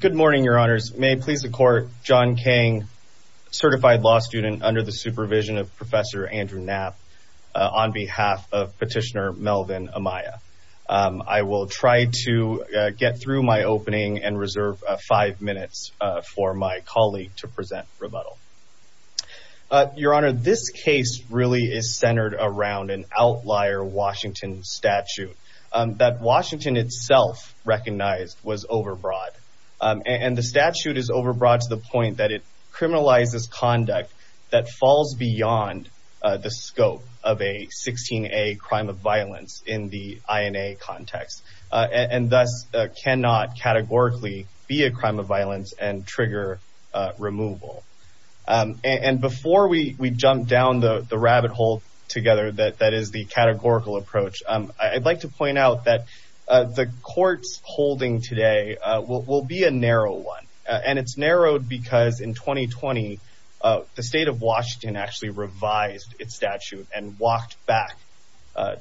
Good morning, your honors. May it please the court, John Kang, certified law student under the supervision of Professor Andrew Knapp on behalf of Petitioner Melvin Amaya. I will try to get through my opening and reserve five minutes for my colleague to present rebuttal. Your honor, this case really is centered around an outlier Washington statute that Washington itself recognized was overbroad and the statute is overbroad to the point that it criminalizes conduct that falls beyond the scope of a 16A crime of violence in the INA context and thus cannot categorically be a crime of violence and trigger removal. And before we jump down the rabbit hole together, that is the categorical approach, I'd like to point out that the court's holding today will be a narrow one and it's narrowed because in 2020 the state of Washington actually revised its statute and walked back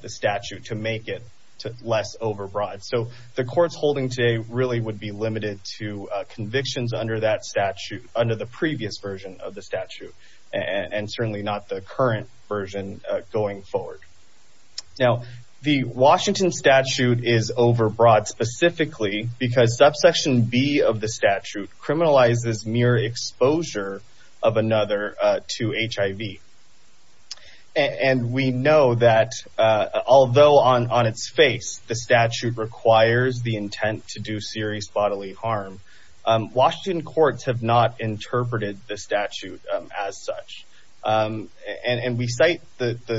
the statute to make it less overbroad. So the court's holding today really would be limited to convictions under that statute, under the previous version of the statute and certainly not the current version going forward. Now the Washington statute is overbroad specifically because subsection B of the statute criminalizes mere exposure of another to HIV. And we know that although on its face the statute requires the intent to do serious bodily harm, Washington courts have not the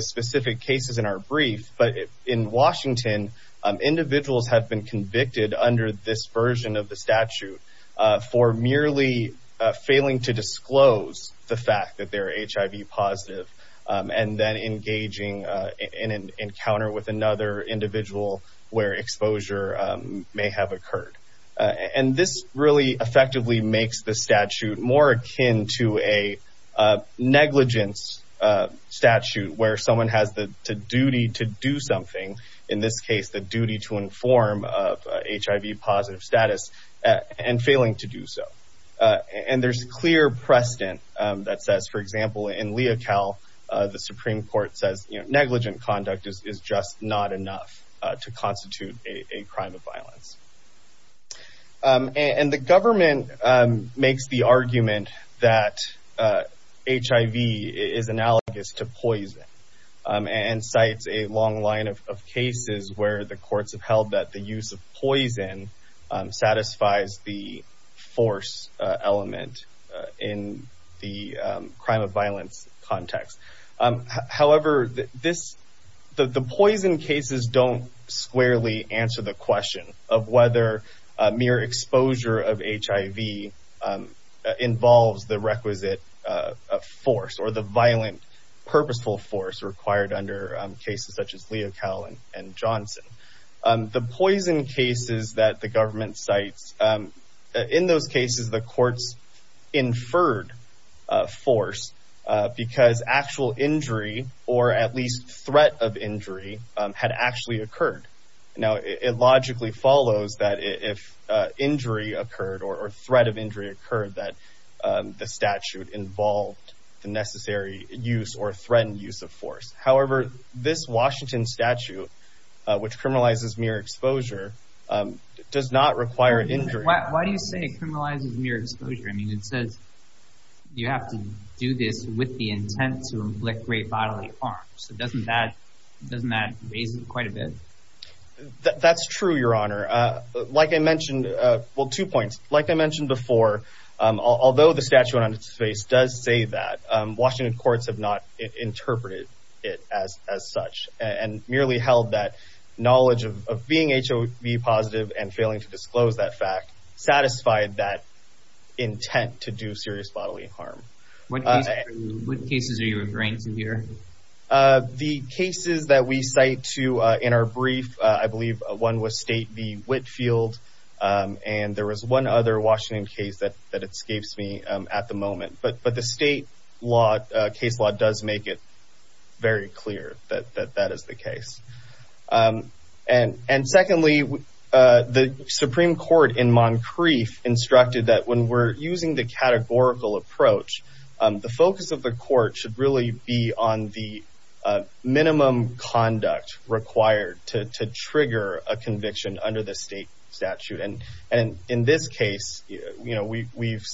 specific cases in our brief, but in Washington individuals have been convicted under this version of the statute for merely failing to disclose the fact that they're HIV positive and then engaging in an encounter with another individual where exposure may have someone has the duty to do something, in this case the duty to inform of HIV positive status and failing to do so. And there's clear precedent that says, for example, in Leocal, the Supreme Court says negligent conduct is just not enough to constitute a crime of violence. And the government makes the argument that HIV is analogous to poison and cites a long line of cases where the courts have held that the use of poison satisfies the force element in the crime of mere exposure of HIV involves the requisite force or the violent purposeful force required under cases such as Leocal and Johnson. The poison cases that the government cites, in those cases the courts inferred force because actual injury or at least threat of injury had actually occurred. Now, it logically follows that if injury occurred or threat of injury occurred that the statute involved the necessary use or threatened use of force. However, this Washington statute, which criminalizes mere exposure, does not require injury. Why do you say it criminalizes mere exposure? I mean, it says you have to do this with the intent to inflict great bodily harm. So doesn't that raise it quite a bit? That's true, Your Honor. Like I mentioned, well, two points. Like I mentioned before, although the statute on its face does say that, Washington courts have not interpreted it as such and merely held that knowledge of being HIV positive and failing to disclose that fact satisfied that intent to do with reins in here? The cases that we cite to in our brief, I believe one was State v. Whitfield, and there was one other Washington case that escapes me at the moment. But the state law, case law does make it very clear that that is the case. And secondly, the Supreme Court in Moncrief instructed that when we're using the categorical approach, the focus of the court should really be on the minimum conduct required to trigger a conviction under the state statute. And in this case, we've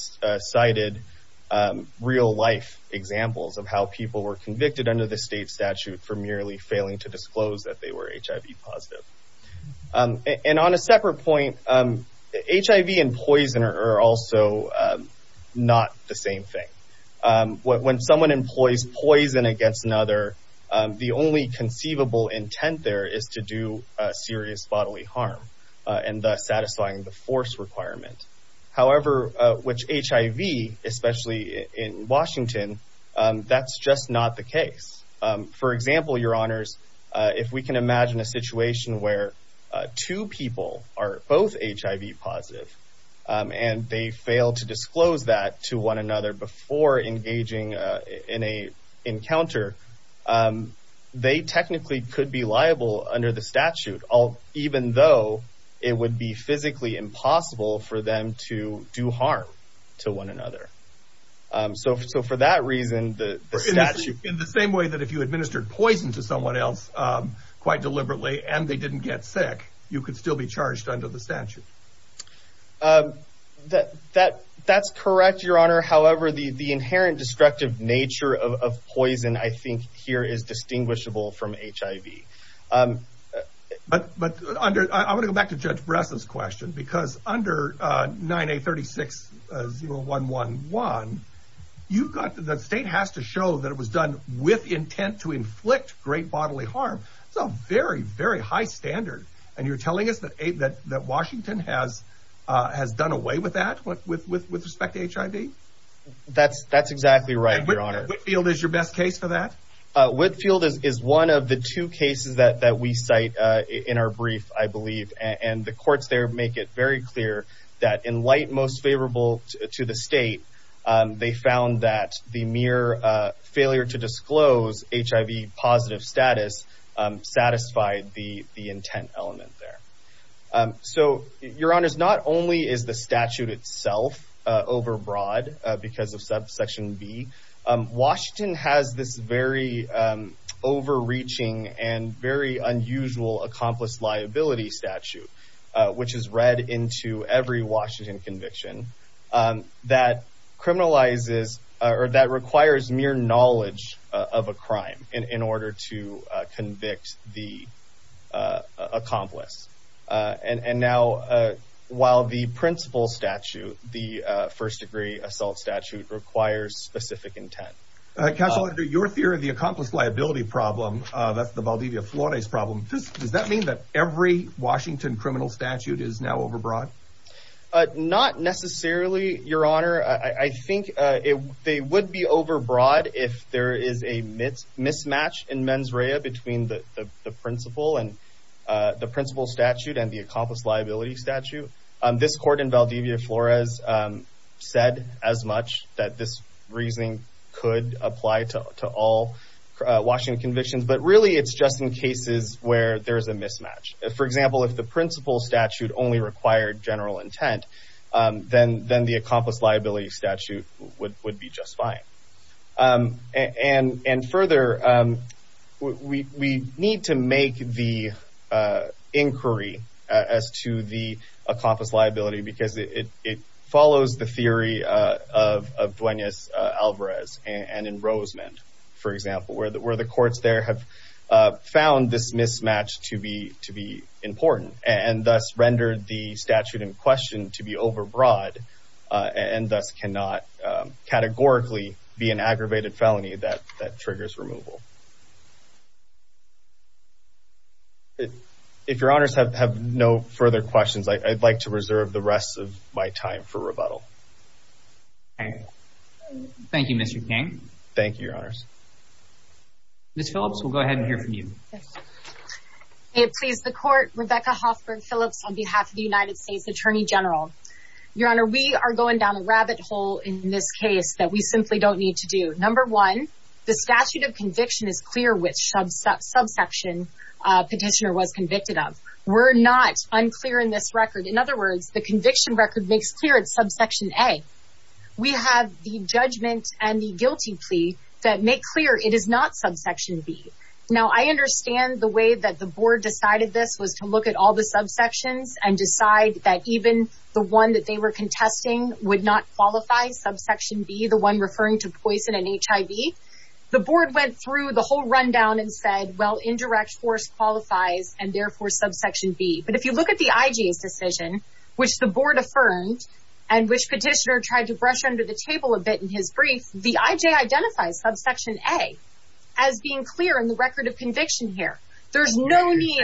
cited real life examples of how people were convicted under the state statute for merely failing to disclose that they were HIV positive. And on a separate point, HIV and poison are also not the same thing. When someone employs poison against another, the only conceivable intent there is to do serious bodily harm and thus satisfying the force requirement. However, with HIV, especially in Washington, that's just not the case. For example, your honors, if we can imagine a situation where two people are both HIV positive and they fail to disclose that to one another before engaging in a encounter, they technically could be liable under the statute, even though it would be physically impossible for them to do harm to one another. So for that reason, the statute... In the same way that if you administered poison to someone else quite deliberately and they didn't get sick, you could still be charged under the statute. That's correct, your honor. However, the inherent destructive nature of poison, I think here is distinguishable from HIV. I want to go back to Judge Breslin's question. Under 9A36-0111, the state has to show that it was done with intent to inflict great bodily harm. It's a very, very high standard. And you're telling us that Washington has done away with that with respect to HIV? That's exactly right, your honor. And Whitfield is your best case for that? Whitfield is one of the two cases that we cite in our brief, I believe. And the courts there make it very clear that in light most favorable to the state, they found that the mere failure to disclose HIV positive status satisfied the intent element there. So your honors, not only is the statute itself overbroad because of subsection B, Washington has this very overreaching and very unusual accomplice liability statute, which is read into every Washington conviction that criminalizes or that requires mere knowledge of a crime in order to statute, the first degree assault statute requires specific intent. Counselor, under your theory of the accomplice liability problem, that's the Valdivia-Flores problem, does that mean that every Washington criminal statute is now overbroad? Not necessarily, your honor. I think they would be overbroad if there is a mismatch in mens rea between the principal statute and the accomplice liability statute. This court in Valdivia-Flores said as much that this reasoning could apply to all Washington convictions, but really it's just in cases where there's a mismatch. For example, if the principal statute only required general intent, then the accomplice liability statute would be just fine. And further, we need to make the inquiry as to the accomplice liability, because it follows the theory of Duenas-Alvarez and in Rosemond, for example, where the courts there have found this mismatch to be important and thus rendered the statute in question to be overbroad and thus cannot categorically be an aggravated felony that triggers removal. If your honors have no further questions, I'd like to reserve the rest of my time for rebuttal. Thank you, Mr. King. Thank you, your honors. Ms. Phillips, we'll go ahead and hear from you. May it please the court, Rebecca Hoffberg Phillips on behalf of the United States Attorney General. Your honor, we are going down a rabbit hole in this case that we simply don't need to do. Number one, the statute of conviction is clear which subsection petitioner was convicted of. We're not unclear in this record. In other words, the conviction record makes clear it's subsection A. We have the judgment and the guilty plea that make clear it is not subsection B. Now, I understand the way that the board decided this was to look at all the subsections and decide that even the one that they were contesting would not qualify subsection B, the one referring to poison and HIV. The board went through the whole rundown and said, well, indirect force qualifies and therefore subsection B. But if you look at the IJ's decision, which the board affirmed and which petitioner tried to brush under the table a bit in his brief, the IJ identifies subsection A as being clear in the record of conviction here. There's no need.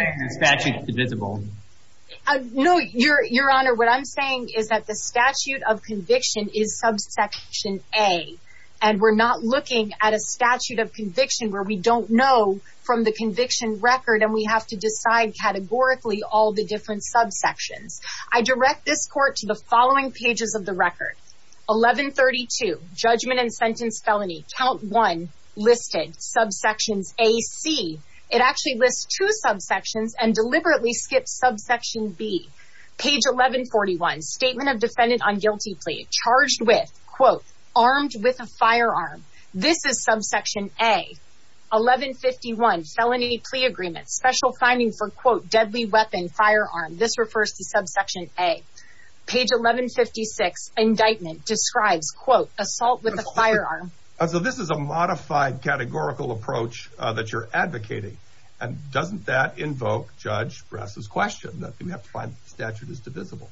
Your honor, what I'm saying is that the statute of conviction is subsection A and we're not looking at a statute of conviction where we don't know from the conviction record and we have to decide categorically all the different subsections. I direct this court to the following pages of the record. 1132 judgment and sentence felony count one listed subsections A C. It actually lists two subsections and deliberately skips subsection B. Page 1141 statement of defendant on guilty plea charged with quote armed with a firearm. This is subsection A. 1151 felony plea agreement special finding for quote deadly weapon firearm. This refers to subsection A. Page 1156 indictment describes quote assault with a firearm. So this is a modified categorical approach that you're advocating and doesn't that invoke Judge Grass's question that we have to find the statute is divisible?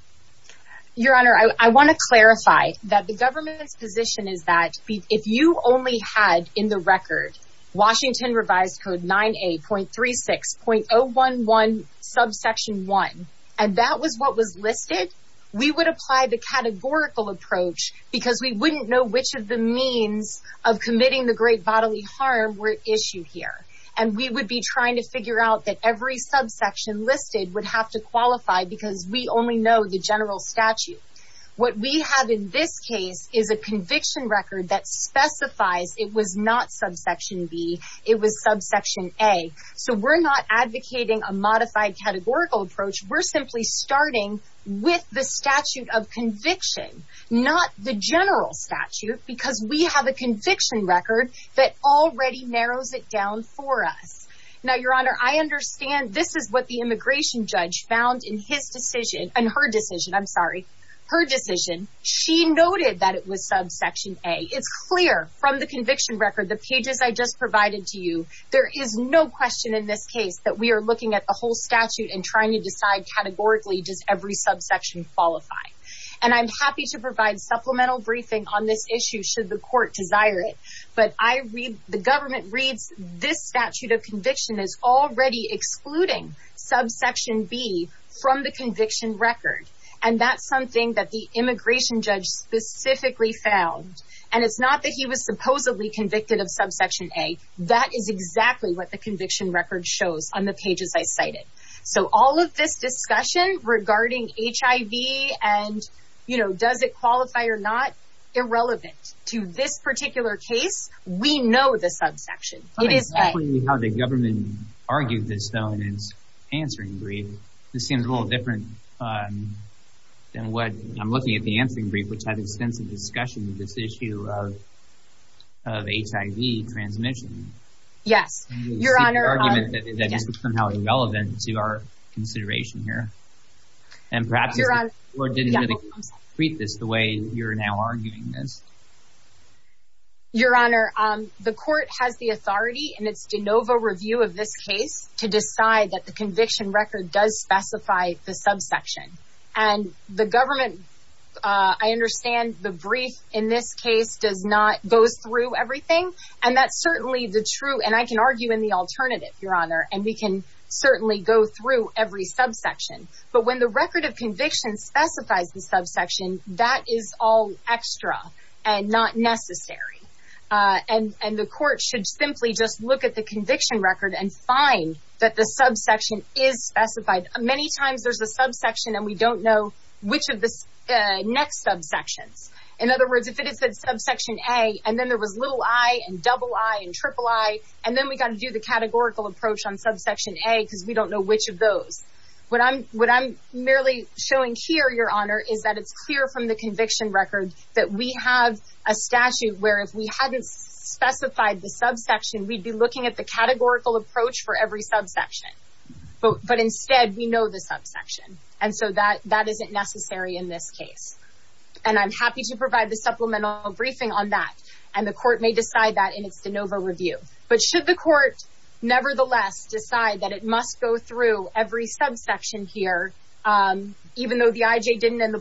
Your honor, I want to clarify that the government's position is that if you only had in the record Washington revised code 9A.36.011 subsection one and that was what was listed, we would apply the categorical approach because we wouldn't know which of the means of committing the great bodily harm were issued here and we would be trying to figure out that every subsection listed would have to qualify because we only know the general statute. What we have in this case is a conviction record that specifies it was not subsection B. It was subsection A. So we're not advocating a modified categorical approach. We're simply starting with the statute of conviction, not the general statute because we have a conviction record that already narrows it down for us. Now, your honor, I understand this is what the immigration judge found in his decision and her decision. I'm sorry, her decision. She noted that it was subsection A. It's clear from the conviction record, the pages I just provided to you, there is no question in this case that we are looking at the whole statute and trying to decide categorically does every subsection qualify and I'm happy to provide supplemental briefing on this issue should the court desire it, but I read the government reads this statute of conviction is already excluding subsection B from the conviction record and that's something that the immigration judge specifically found and it's not that he was supposedly convicted of subsection A. That is exactly what the conviction record shows on the pages I cited. So all of this discussion regarding HIV and, you know, does it qualify or not, irrelevant to this particular case. We know the subsection. It is how the government argued this though in its answering brief. This seems a little different than what I'm looking at the answering brief, which had extensive discussion of this issue of HIV transmission. Yes, your honor, argument that is somehow irrelevant to our consideration here and perhaps your honor or didn't really treat this the way you're now arguing this. Your honor, the court has the authority and it's de novo review of this case to decide that the conviction record does specify the subsection and the government. I understand the brief in this case does not goes through everything and that's certainly the true and I can argue in the alternative, your honor, and we can certainly go through every subsection, but when the record of conviction specifies the subsection, that is all extra and not necessary and the court should simply just look at the conviction record and find that the subsection is specified. Many times there's a subsection and we don't know which of the next subsections. In other words, if it is that subsection A and then there was little I and double I and triple I and then we got to do the categorical approach on subsection A because we don't know which of those. What I'm merely showing here, your honor, is that it's clear from the conviction record that we have a statute where if we hadn't specified the subsection, we'd be looking at the categorical approach for every subsection, but instead we know the subsection and so that that isn't necessary in this case and I'm happy to provide the supplemental briefing on that and the court may decide that in its de novo review, but should the court nevertheless decide that it must go through every subsection here even though the IJ didn't and the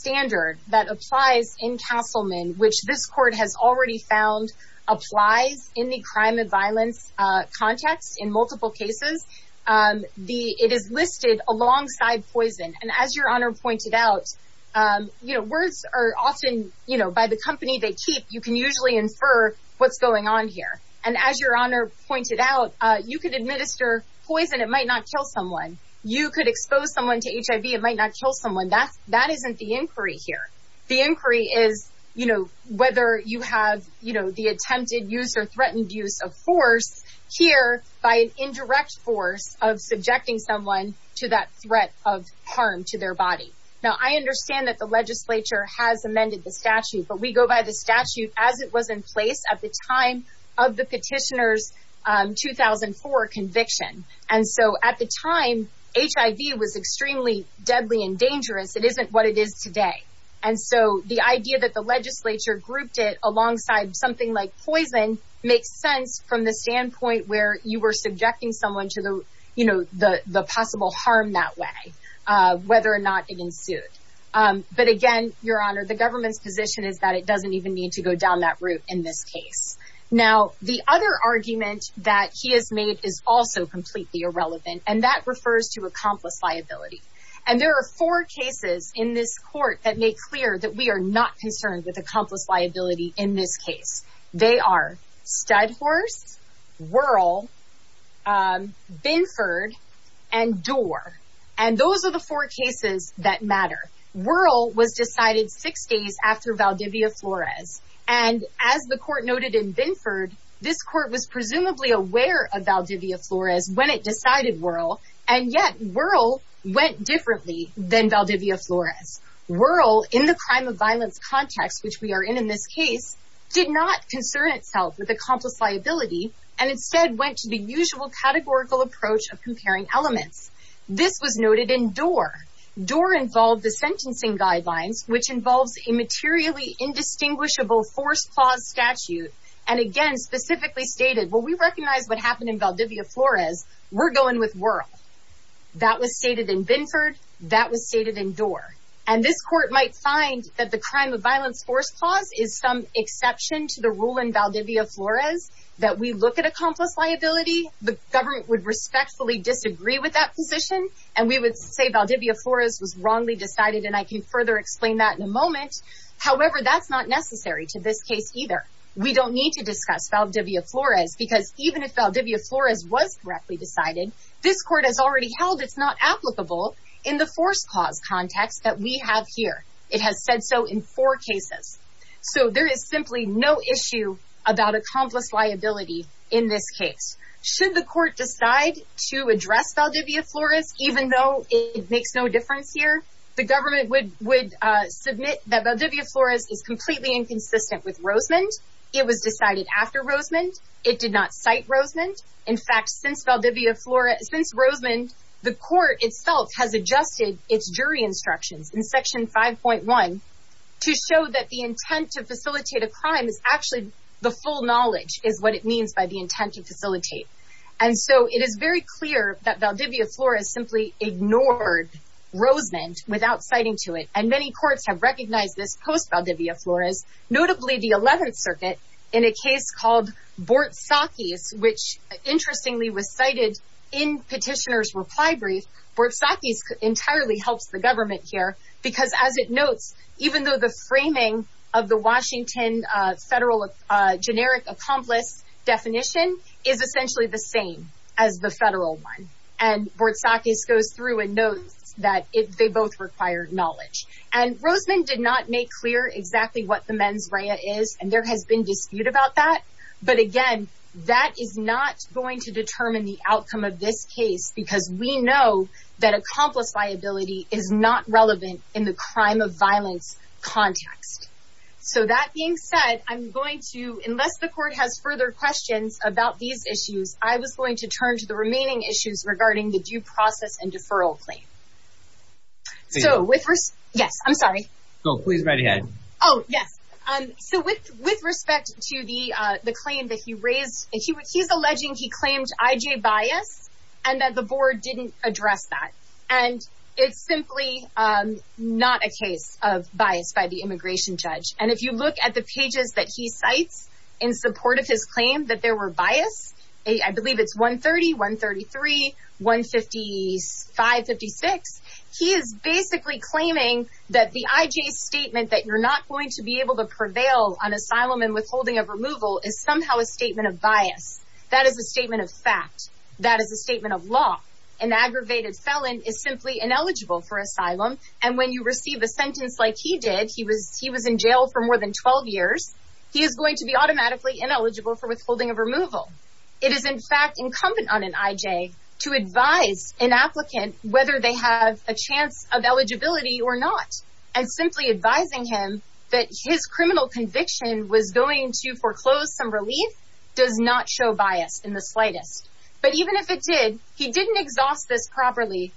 standard that applies in Castleman, which this court has already found, applies in the crime and violence context in multiple cases. It is listed alongside poison and as your honor pointed out, you know, words are often, you know, by the company they keep, you can usually infer what's going on here and as your honor pointed out, you could administer poison, it might not kill someone. You could expose someone to HIV, it might not kill someone. That isn't the inquiry here. The inquiry is, you know, whether you have, you know, the attempted use or threatened use of force here by an indirect force of subjecting someone to that threat of harm to their body. Now I understand that the legislature has amended the statute, but we go by the statute as it was in at the time of the petitioner's 2004 conviction and so at the time HIV was extremely deadly and dangerous. It isn't what it is today and so the idea that the legislature grouped it alongside something like poison makes sense from the standpoint where you were subjecting someone to the, you know, the possible harm that way, whether or not it ensued. But again, your honor, the Now the other argument that he has made is also completely irrelevant and that refers to accomplice liability and there are four cases in this court that make clear that we are not concerned with accomplice liability in this case. They are Studhorse, Wuerl, Binford, and Doar and those are the four cases that matter. Wuerl was decided six days after Valdivia Flores and as the court noted in Binford, this court was presumably aware of Valdivia Flores when it decided Wuerl and yet Wuerl went differently than Valdivia Flores. Wuerl, in the crime of violence context which we are in in this case, did not concern itself with accomplice liability and instead went to the usual categorical approach of comparing elements. This was noted in Doar. Doar involved the sentencing statute and again specifically stated, well, we recognize what happened in Valdivia Flores. We're going with Wuerl. That was stated in Binford. That was stated in Doar and this court might find that the crime of violence force clause is some exception to the rule in Valdivia Flores that we look at accomplice liability. The government would respectfully disagree with that position and we would say Valdivia Flores was wrongly decided and I can further explain that in a moment. However, that's not necessary to this case either. We don't need to discuss Valdivia Flores because even if Valdivia Flores was correctly decided, this court has already held it's not applicable in the force clause context that we have here. It has said so in four cases. So there is simply no issue about accomplice liability in this case. Should the court decide to address Valdivia Flores even though it makes no difference here, the government would submit that Valdivia Flores is completely inconsistent with Rosemond. It was decided after Rosemond. It did not cite Rosemond. In fact, since Valdivia Flores, since Rosemond, the court itself has adjusted its jury instructions in section 5.1 to show that the intent to facilitate a crime is actually the full knowledge is what it means by the intent to facilitate. And so it is very clear that Valdivia Flores simply ignored Rosemond without citing to it and many courts have recognized this post-Valdivia Flores, notably the 11th circuit in a case called Bortzakis, which interestingly was cited in petitioner's reply brief. Bortzakis entirely helps the government here because as it notes, even though the framing of the Washington federal generic accomplice definition is essentially the same as the federal one. And Bortzakis goes through and notes that they both require knowledge. And Rosemond did not make clear exactly what the mens rea is and there has been dispute about that. But again, that is not going to determine the outcome of this case because we know that violence context. So that being said, I'm going to, unless the court has further questions about these issues, I was going to turn to the remaining issues regarding the due process and deferral claim. So with, yes, I'm sorry. Go, please, right ahead. Oh, yes. So with respect to the claim that he raised, he's alleging he claimed IJ bias and that the board didn't address that. And it's simply not a case of bias by the immigration judge. And if you look at the pages that he cites in support of his claim that there were bias, I believe it's 130, 133, 155, 56. He is basically claiming that the IJ statement that you're not going to be able to prevail on asylum and withholding of removal is somehow a statement of bias. That is a statement of fact. That is a statement of law. An aggravated felon is simply ineligible for asylum. And when you receive a sentence like he did, he was he was in jail for more than 12 years. He is going to be automatically ineligible for withholding of removal. It is, in fact, incumbent on an IJ to advise an applicant whether they have a chance of eligibility or not. And simply advising him that his criminal conviction was going to foreclose some relief does not show bias in the slightest. But even if it did, he didn't exhaust this properly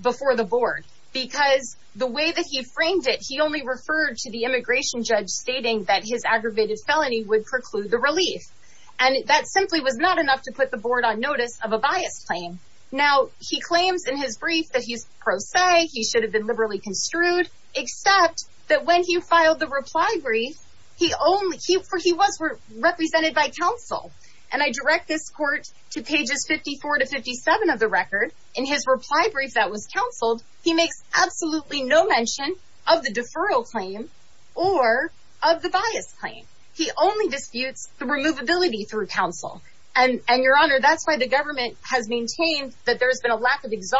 before the board because the way that he framed it, he only referred to the immigration judge stating that his aggravated felony would preclude the relief. And that simply was not enough to put the board on notice of a bias claim. Now, he claims in his brief that he's pro se. He should file the reply brief. He only he for he was represented by counsel. And I direct this court to pages 54 to 57 of the record. In his reply brief that was counseled, he makes absolutely no mention of the deferral claim or of the bias claim. He only disputes the removability through counsel. And your honor, that's why the government has maintained that there's been a lack of his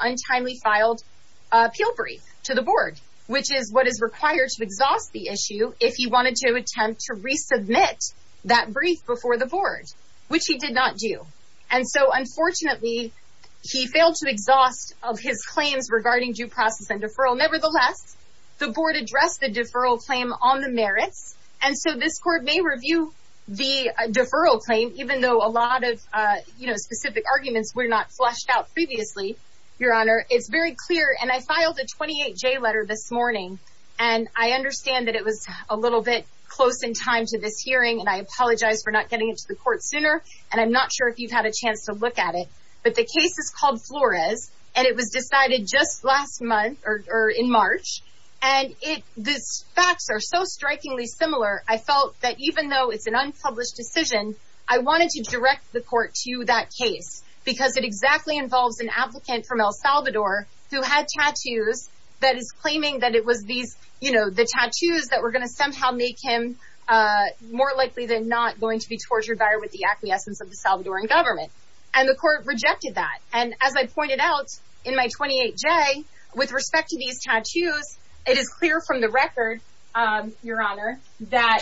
untimely filed appeal brief to the board, which is what is required to exhaust the issue if you wanted to attempt to resubmit that brief before the board, which he did not do. And so, unfortunately, he failed to exhaust of his claims regarding due process and deferral. Nevertheless, the board addressed the deferral claim on the merits. And so this court may review the deferral claim, even though a lot of specific arguments were not fleshed out previously. Your honor, it's very clear. And I filed a twenty eight J letter this morning. And I understand that it was a little bit close in time to this hearing. And I apologize for not getting into the court sooner. And I'm not sure if you've had a chance to look at it. But the case is called Flores. And it was decided just last month or in March. And it this facts are so strikingly similar. I felt that even though it's an unpublished decision, I wanted to direct the court to that case because it exactly involves an applicant from El Salvador who had tattoos that is claiming that it was these, you know, the tattoos that were going to somehow make him more likely than not going to be tortured by or with the acquiescence of the Salvadoran government. And the court rejected that. And as I pointed out in my twenty eight J, with respect to these tattoos, it is from the record, your honor, that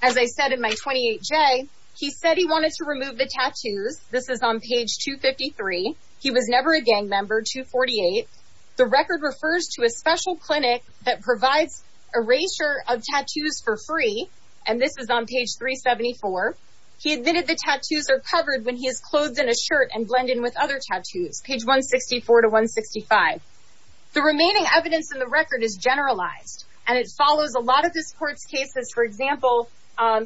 as I said in my twenty eight J, he said he wanted to remove the tattoos. This is on page two fifty three. He was never a gang member to forty eight. The record refers to a special clinic that provides a ratio of tattoos for free. And this is on page three seventy four. He admitted the tattoos are covered when he is clothed in a shirt and blend in with other tattoos. Page one sixty four to one sixty five. The remaining evidence in the record is generalized and it follows a lot of this court's cases. For example,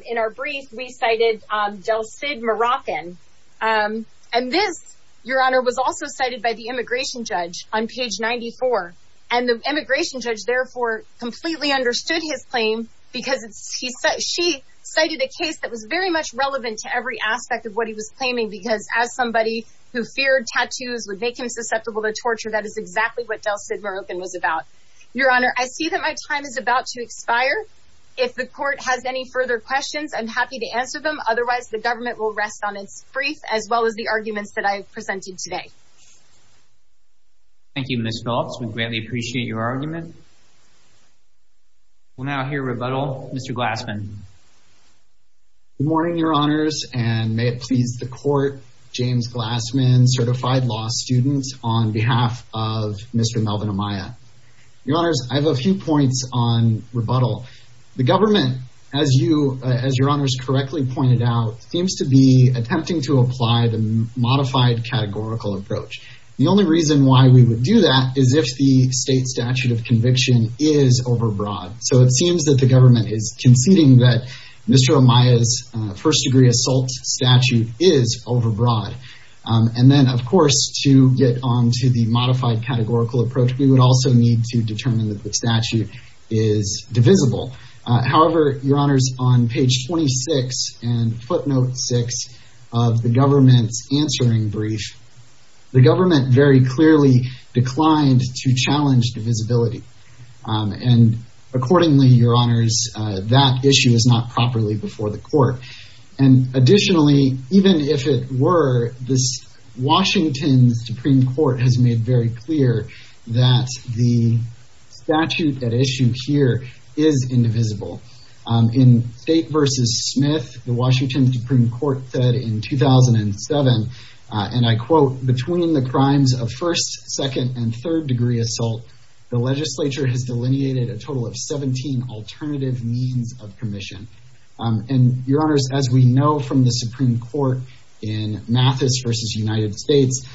in our brief, we cited Del Cid Moroccan. And this, your honor, was also cited by the immigration judge on page ninety four. And the immigration judge therefore completely understood his claim because he said she cited a case that was very much relevant to every aspect of what he was claiming, because as someone who feared tattoos would make him susceptible to torture, that is exactly what Del Cid Moroccan was about. Your honor, I see that my time is about to expire. If the court has any further questions, I'm happy to answer them. Otherwise, the government will rest on its brief as well as the arguments that I have presented today. Thank you, Ms. Phillips. We greatly appreciate your argument. We'll now hear rebuttal. Mr. Glassman. Good morning, your honors, and may please the court. James Glassman, certified law student on behalf of Mr. Melvin Amaya. Your honors, I have a few points on rebuttal. The government, as you, as your honors correctly pointed out, seems to be attempting to apply the modified categorical approach. The only reason why we would do that is if the state statute of conviction is overbroad. So it seems that the is overbroad. And then, of course, to get on to the modified categorical approach, we would also need to determine that the statute is divisible. However, your honors, on page 26 and footnote six of the government's answering brief, the government very clearly declined to challenge divisibility. And accordingly, your honors, that issue is not properly before the court. And additionally, even if it were, this Washington Supreme Court has made very clear that the statute at issue here is indivisible. In State v. Smith, the Washington Supreme Court said in 2007, and I quote, between the crimes of first, second, and third degree assault, the legislature has delineated a total of 17 alternative means of commission. And your honors, as we know from the Supreme Court in Mathis v. United States,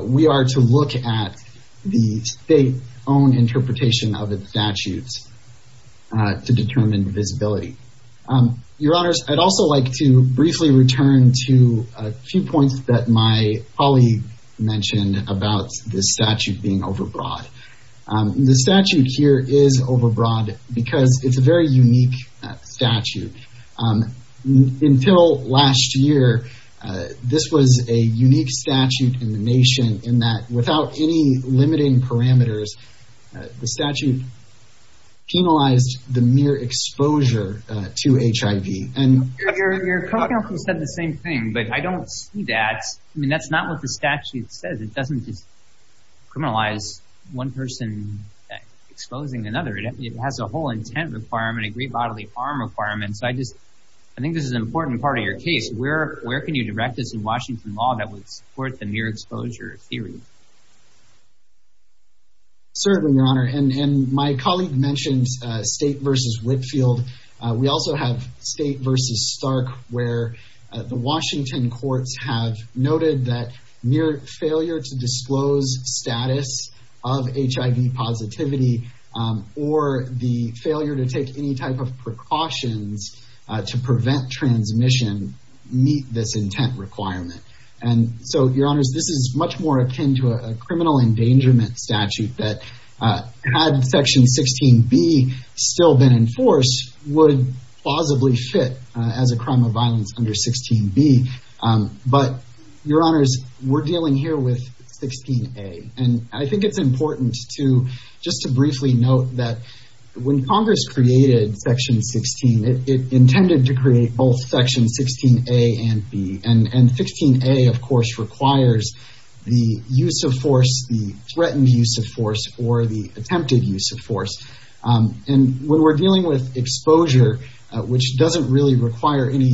we are to look at the state's own interpretation of the statutes to determine divisibility. Your honors, I'd also like to briefly return to a few points that my colleague mentioned about this statute being overbroad. The statute here is overbroad because it's a very unique statute. Until last year, this was a unique statute in the nation in that without any limiting parameters, the statute penalized the mere exposure to HIV. And your co-counsel said the same thing, but I don't see that. I mean, that's not what the statute says. It doesn't just criminalize one person exposing another. It has a whole intent requirement, a great bodily harm requirement. So I just, I think this is an important part of your case. Where can you direct us in Washington law that would support the mere exposure theory? Certainly, your honor. And my colleague mentioned State v. Whitfield. We also have State v. Stark, where the Washington courts have noted that mere failure to disclose status of HIV positivity or the failure to take any type of precautions to prevent transmission meet this intent requirement. And so, your honors, this is much more akin to a criminal endangerment statute that had section 16B still been enforced would plausibly fit as a crime of to, just to briefly note that when Congress created section 16, it intended to create both section 16A and B. And 16A, of course, requires the use of force, the threatened use of force, or the attempted use of force. And when we're dealing with exposure, which doesn't really require any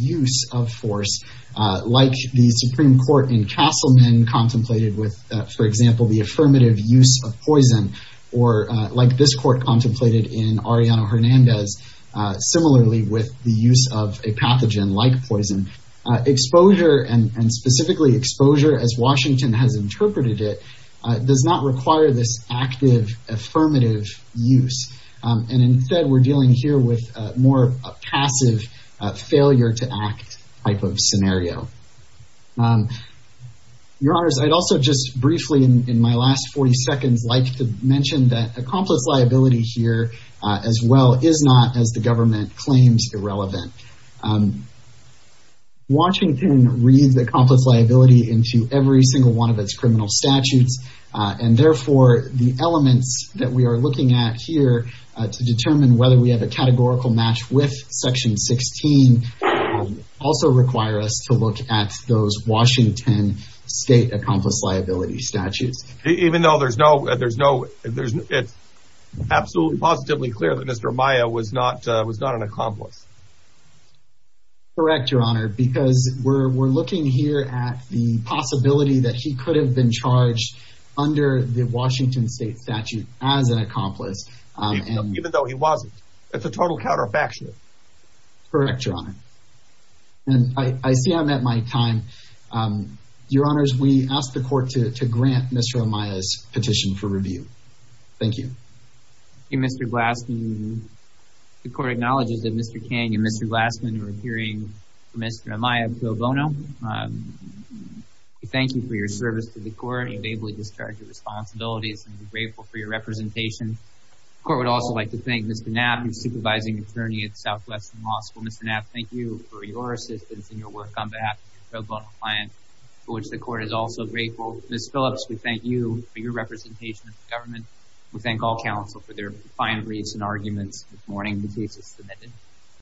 use of force, like the Supreme Court in Castleman contemplated with, for example, the affirmative use of poison, or like this court contemplated in Arellano Hernandez, similarly with the use of a pathogen like poison. Exposure and specifically exposure, as Washington has interpreted it, does not require this active affirmative use. And instead, we're dealing here with a more passive failure to act type of scenario. Your honors, I'd also just briefly in my last 40 seconds, like to mention that a complex liability here as well is not, as the government claims, irrelevant. Washington reads the complex liability into every single one of its criminal statutes. And therefore, the elements that we are looking at here to determine whether we have a categorical match with section 16 also require us to look at those Washington state accomplice liability statutes. Even though there's no, it's absolutely positively clear that Mr. Amaya was not an accomplice. Correct, your honor, because we're looking here at the possibility that he could have been charged under the Washington state statute as an accomplice. Even though he wasn't. It's a total counterfactual. Correct, your honor. And I see I'm at my time. Your honors, we ask the court to grant Mr. Amaya's petition for review. Thank you. Thank you, Mr. Glassman. The court acknowledges that Mr. King and Mr. Glassman are adhering to Mr. Amaya pro bono. We thank you for your service to the court. You've ably discharged your responsibilities and we're grateful for your representation. The court would also like to thank Mr. Knapp, your supervising attorney at Southwestern Law School. Mr. Knapp, thank you for your assistance in your work on behalf of your pro bono client, for which the court is also grateful. Ms. Phillips, we thank you for your representation of the government. We thank all counsel for their fine briefs and arguments this morning. The case is submitted.